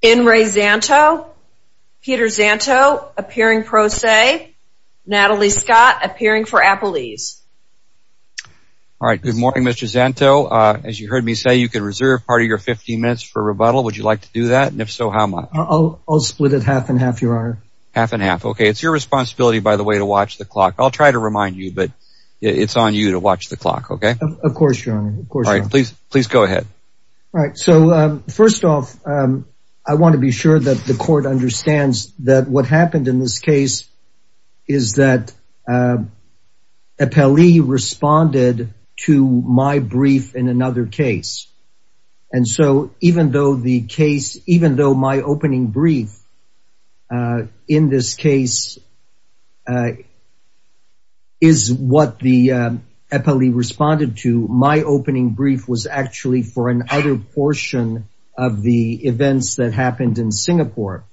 In re SZANTO, Peter SZANTO appearing pro se, Natalie Scott appearing for Apple Ease. All right, good morning Mr. SZANTO. As you heard me say, you could reserve part of your 15 minutes for rebuttal. Would you like to do that? And if so, how much? I'll split it half and half, your honor. Half and half, okay. It's your responsibility, by the way, to watch the clock. I'll try to remind you, but it's on you to watch the clock, okay? Of course, your honor. All right, please, please go ahead. All right. So first off, I want to be sure that the court understands that what happened in this case is that Eppeli responded to my brief in another case. And so even though the case, even though my opening brief, in this case, is what the Eppeli responded to, my opening brief was actually for another portion of the events that happened in Singapore.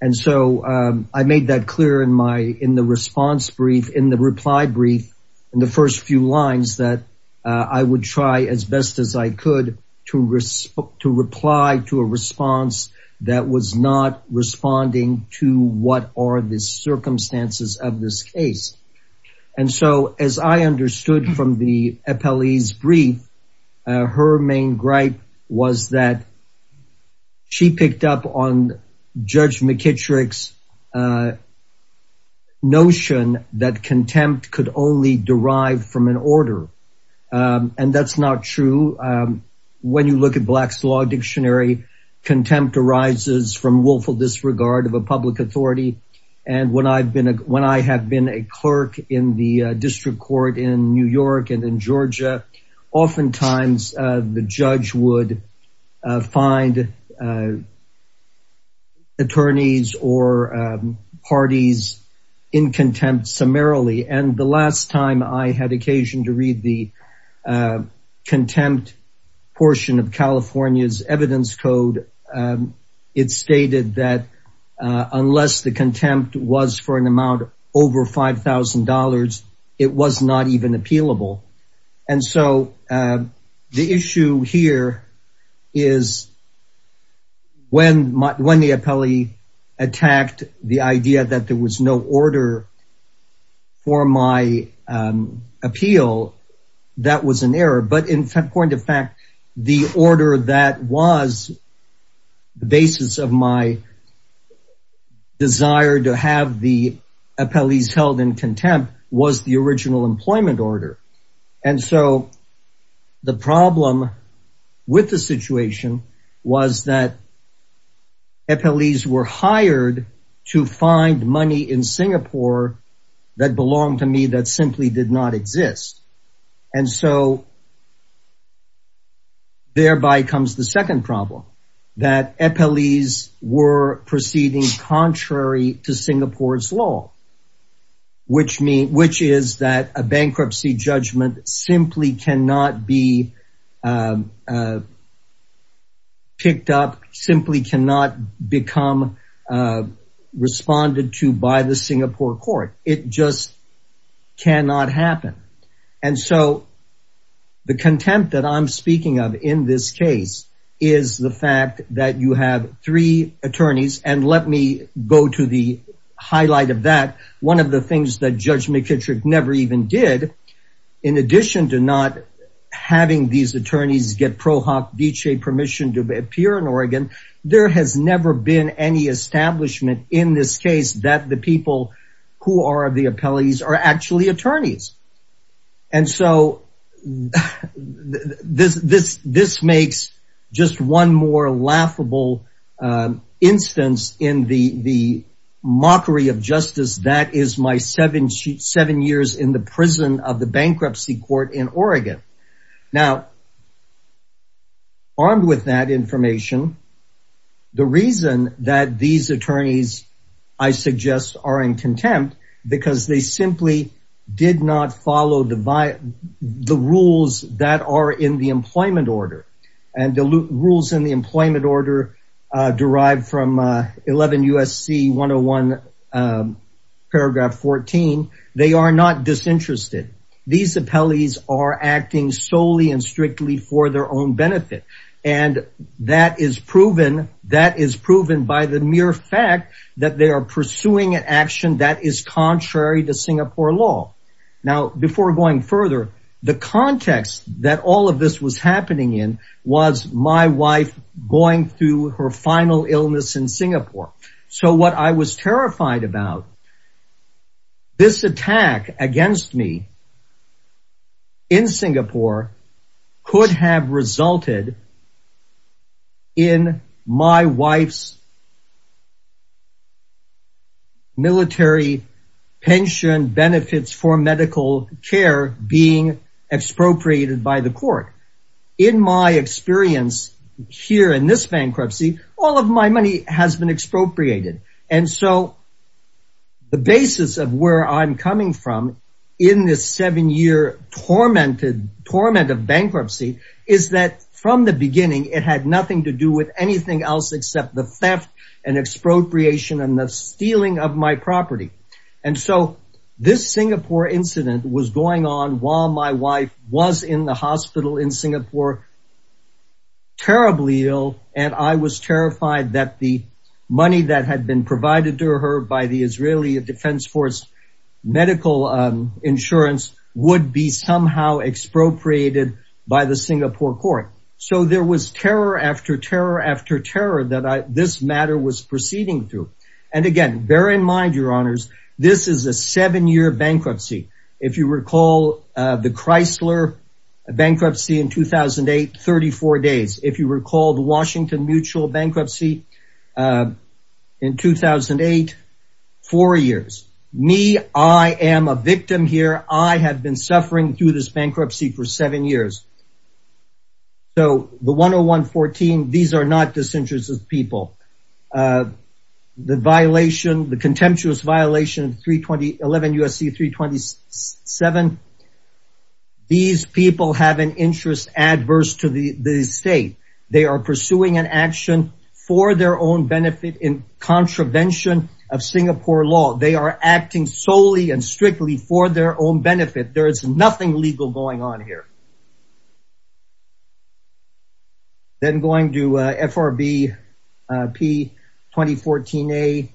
And so I made that clear in my, in the response brief, in the reply brief, in the first few lines that I would try as best as I could to reply to a response that was not responding to what are the circumstances of this case. And so as I understood from the Eppeli's brief, her main gripe was that she picked up on Judge McKittrick's notion that contempt could only derive from an order. And that's not true. When you look at Black's Law Dictionary, contempt arises from willful disregard of a public authority. And when I've been, when I have been a clerk in the district court in New York and in Georgia, oftentimes the judge would find attorneys or parties in contempt summarily. And the last time I had occasion to read the contempt portion of California's evidence code, it stated that unless the contempt was for an amount over $5,000, it was not even appealable. And so the issue here is when the Eppeli attacked the idea that there was no order for my appeal, that was an error. But in point of fact, the order that was the basis of my desire to have the Eppeli's held in contempt was the original employment order. And so the problem with the situation was that Eppeli's were fined money in Singapore that belonged to me that simply did not exist. And so thereby comes the second problem, that Eppeli's were proceeding contrary to Singapore's law, which means, which is that a bankruptcy judgment simply cannot be by the Singapore court, it just cannot happen. And so the contempt that I'm speaking of in this case, is the fact that you have three attorneys, and let me go to the highlight of that. One of the things that Judge McKittrick never even did, in addition to not having these attorneys get ProHoc Dece permission to appear in this case, that the people who are the Eppeli's are actually attorneys. And so this makes just one more laughable instance in the mockery of justice that is my seven years in the prison of the bankruptcy court in Oregon. Now, armed with that information, the reason that these attorneys, I suggest, are in contempt, because they simply did not follow the rules that are in the employment order. And the rules in the employment order, derived from 11 USC 101, paragraph 14, they are not disinterested. These Eppeli's are acting solely and strictly for their own benefit. And that is proven that is proven by the mere fact that they are pursuing an action that is contrary to Singapore law. Now, before going further, the context that all of this was happening in was my wife going through her final illness in Singapore. So what I was terrified about this attack against me in Singapore could have resulted in my wife's military pension benefits for medical care being expropriated by the court. In my experience, here in this bankruptcy, all of my money has been expropriated. And so the basis of where I'm coming from, in this seven year tormented torment of bankruptcy, is that from the beginning, it had nothing to do with anything else except the theft and expropriation and the stealing of my property. And so this Singapore incident was going on while my wife was in the money that had been provided to her by the Israeli Defense Force medical insurance would be somehow expropriated by the Singapore court. So there was terror after terror after terror that this matter was proceeding through. And again, bear in mind, Your Honors, this is a seven year bankruptcy. If you recall, the Chrysler bankruptcy in 2008, 34 days, if you recall the Washington mutual bankruptcy in 2008, four years, me, I am a victim here, I have been suffering through this bankruptcy for seven years. So the 10114, these are not disinterested people. The violation, the contemptuous violation 32011 USC 327. These people have an interest adverse to the the state, they are pursuing an action for their own benefit in contravention of Singapore law, they are acting solely and strictly for their own benefit. There is nothing legal going on here. Then going to FRB P 2014. A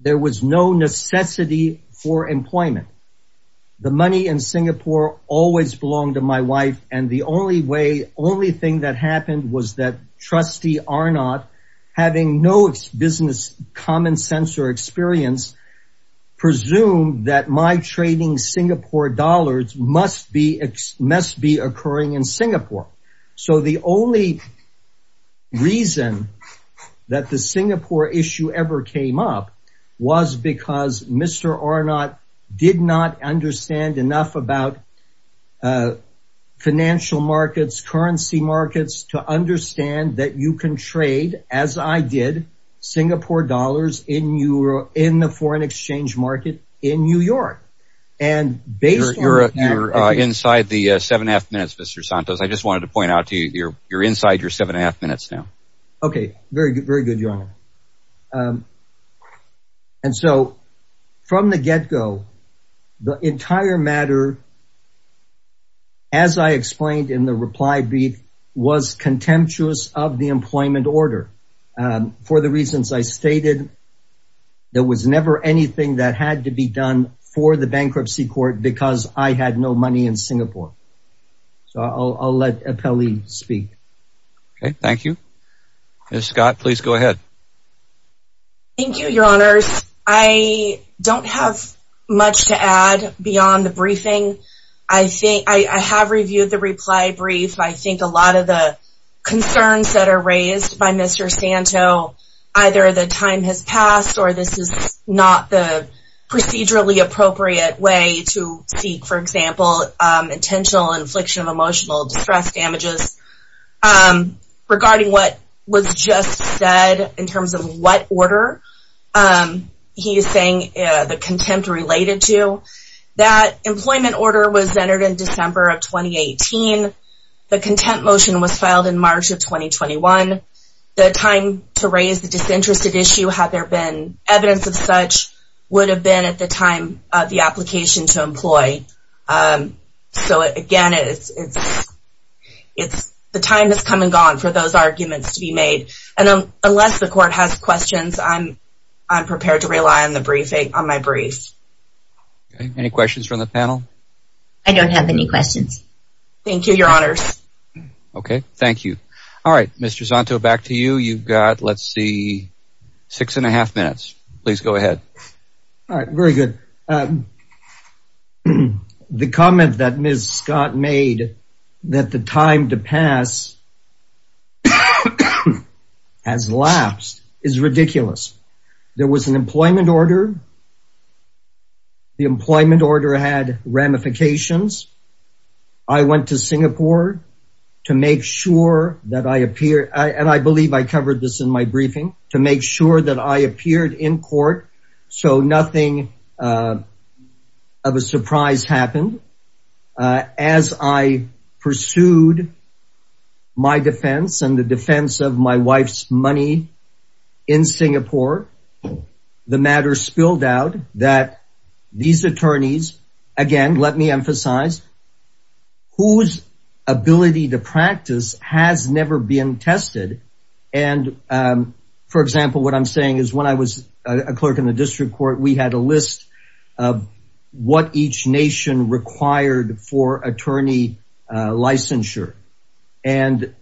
there was no necessity for employment. The money in Singapore always belonged to my wife. And the only way only thing that happened was that trustee are not having no business common sense or experience. presume that my trading Singapore dollars must be must be occurring in Singapore. So the only reason that the Singapore issue ever came up was because Mr. are not did not understand enough about financial markets, currency markets to understand that you can trade as I did Singapore dollars in your in the foreign exchange market in New York. And based on your inside the seven and a half minutes, Mr. Santos, I just wanted to point out to you you're you're inside your seven and a Okay, very good. Very good, your honor. And so from the get go, the entire matter, as I explained in the reply brief was contemptuous of the employment order. For the reasons I stated, there was never anything that had to be done for the bankruptcy court because I had no money in Singapore. So I'll let a Peli speak. Okay, thank you. Scott, please go ahead. Thank you, your honors. I don't have much to add beyond the briefing. I think I have reviewed the reply brief, I think a lot of the concerns that are raised by Mr. Santo, either the time has passed, or this is not the procedurally appropriate way to speak, for example, intentional infliction of emotional distress damages. Regarding what was just said in terms of what order he is saying the contempt related to that employment order was entered in December of 2018. The contempt motion was filed in March of 2021. The time to raise the disinterested issue had there been evidence of such would have been at the time of the application to employ. So again, it's, it's, it's the time has come and gone for those arguments to be made. And unless the court has questions, I'm, I'm prepared to rely on the briefing on my brief. Any questions from the panel? I don't have any questions. Thank you, your honors. Okay, thank you. All right, Mr. Santo back to you. You've got let's see, six and a half minutes, please go ahead. All right, very good. The comment that Ms. Scott made that the time to pass has lapsed is ridiculous. There was an employment order. The employment order had ramifications. I went to Singapore to make sure that I appear and I believe I made sure that I appeared in court. So nothing of a surprise happened. As I pursued my defense and the defense of my wife's money in Singapore, the matter spilled out that these attorneys, again, let me emphasize, whose ability to I'm saying is when I was a clerk in the district court, we had a list of what each nation required for attorney licensure. And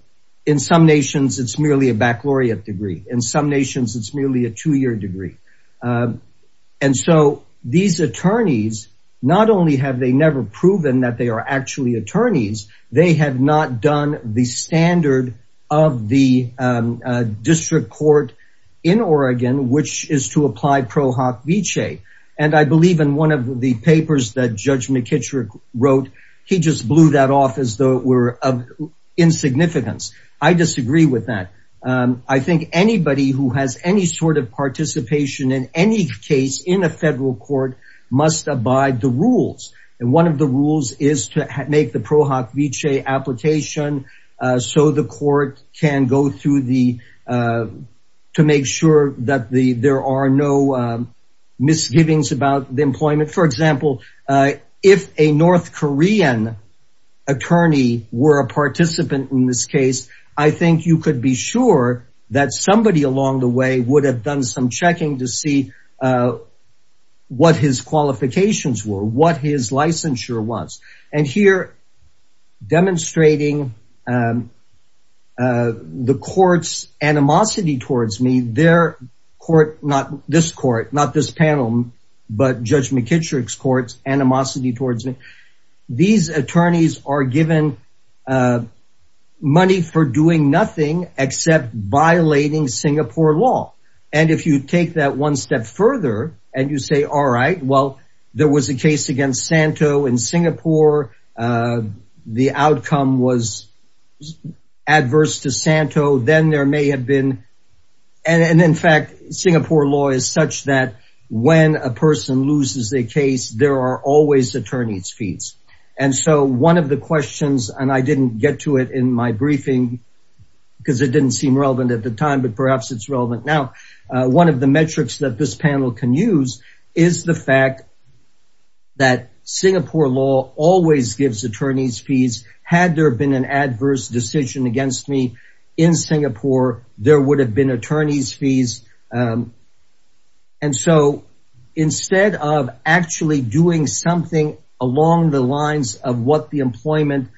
in some nations, it's merely a baccalaureate degree. In some nations, it's merely a two year degree. And so these attorneys, not only have they never proven that they are actually attorneys, they have not done the standard of the district court in Oregon, which is to apply pro hoc vichae. And I believe in one of the papers that Judge McKittrick wrote, he just blew that off as though it were of insignificance. I disagree with that. I think anybody who has any sort of participation in any case in a federal court must abide the rules. And one of the rules is to make the pro hoc vichae application so the court can go through the to make sure that the there are no misgivings about the employment. For example, if a North Korean attorney were a participant in this case, I think you could be sure that somebody along the way would have done some checking to see what his qualifications were, what his licensure was. And here, demonstrating the court's animosity towards me, their court, not this court, not this panel, but Judge McKittrick's court's animosity towards me. These attorneys are given money for violating Singapore law. And if you take that one step further, and you say, all right, well, there was a case against Santo in Singapore, the outcome was adverse to Santo, then there may have been. And in fact, Singapore law is such that when a person loses a case, there are always attorney's fees. And so one of the questions, and I didn't get to it in my briefing, because it didn't seem relevant at the time, but perhaps it's relevant now. One of the metrics that this panel can use is the fact that Singapore law always gives attorney's fees, had there been an adverse decision against me, in Singapore, there would have been attorney's fees. And so instead of actually doing something along the lines of employment,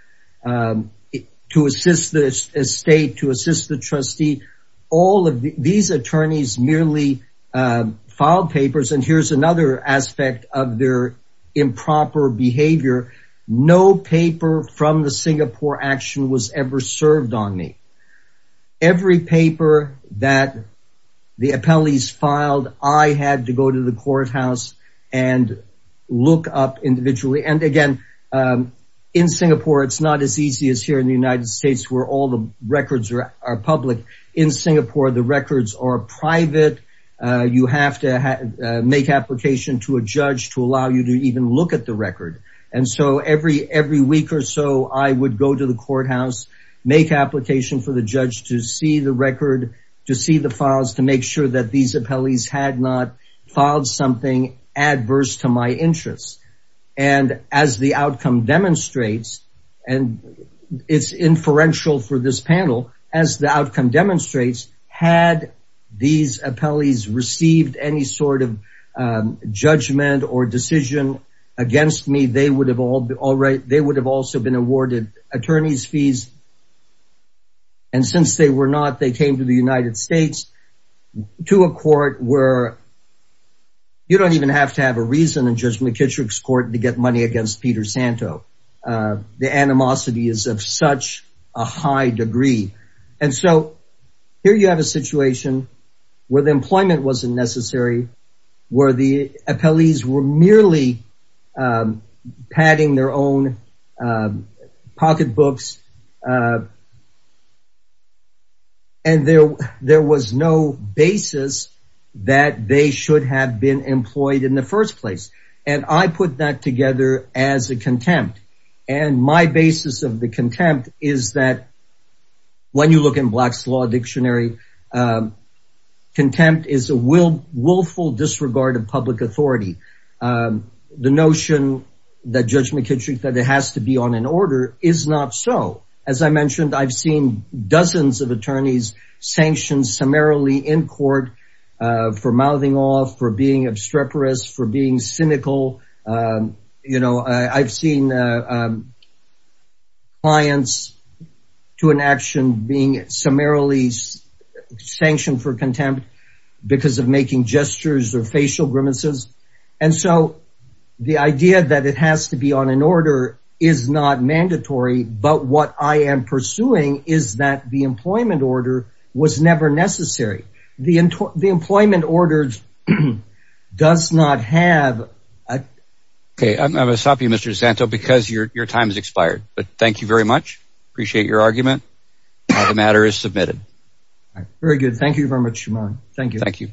to assist the state, to assist the trustee, all of these attorneys merely filed papers. And here's another aspect of their improper behavior. No paper from the Singapore action was ever served on me. Every paper that the appellees filed, I had to go to the courthouse and look up individually. And again, in Singapore, it's not as easy as here in the United States where all the records are public. In Singapore, the records are private, you have to make application to a judge to allow you to even look at the record. And so every week or so I would go to the courthouse, make application for the judge to see the record, to see the files to make sure that these appellees had not filed something adverse to my interests. And as the outcome demonstrates, and it's inferential for this panel, as the outcome demonstrates, had these appellees received any sort of judgment or decision against me, they would have also been awarded attorney's fees. And since they were not, they came to the United You don't even have to have a reason in Judge McKittrick's court to get money against Peter Santo. The animosity is of such a high degree. And so here you have a situation where the employment wasn't necessary, where the appellees were merely padding their own pocketbooks. And there, there was no basis that they should have been employed in the first place. And I put that together as a contempt. And my basis of the contempt is that when you look in Black's Law Dictionary, contempt is a willful disregard of public authority. The notion that Judge McKittrick said it has to be on an order is not so. As I mentioned, I've seen dozens of attorneys sanctioned summarily in court for mouthing off for being obstreperous, for being cynical. You know, I've seen clients to an action being summarily sanctioned for contempt, because of making gestures or facial grimaces. And so the idea that it has to be on an order is not mandatory. But what I am pursuing is that the employment order was never necessary. The employment order does not have a... Okay, I'm going to stop you, Mr. Santo, because your time has expired. But thank you very much. Appreciate your argument. The matter is submitted. Very good. Thank you very much, Shimon. Thank you. Thank you.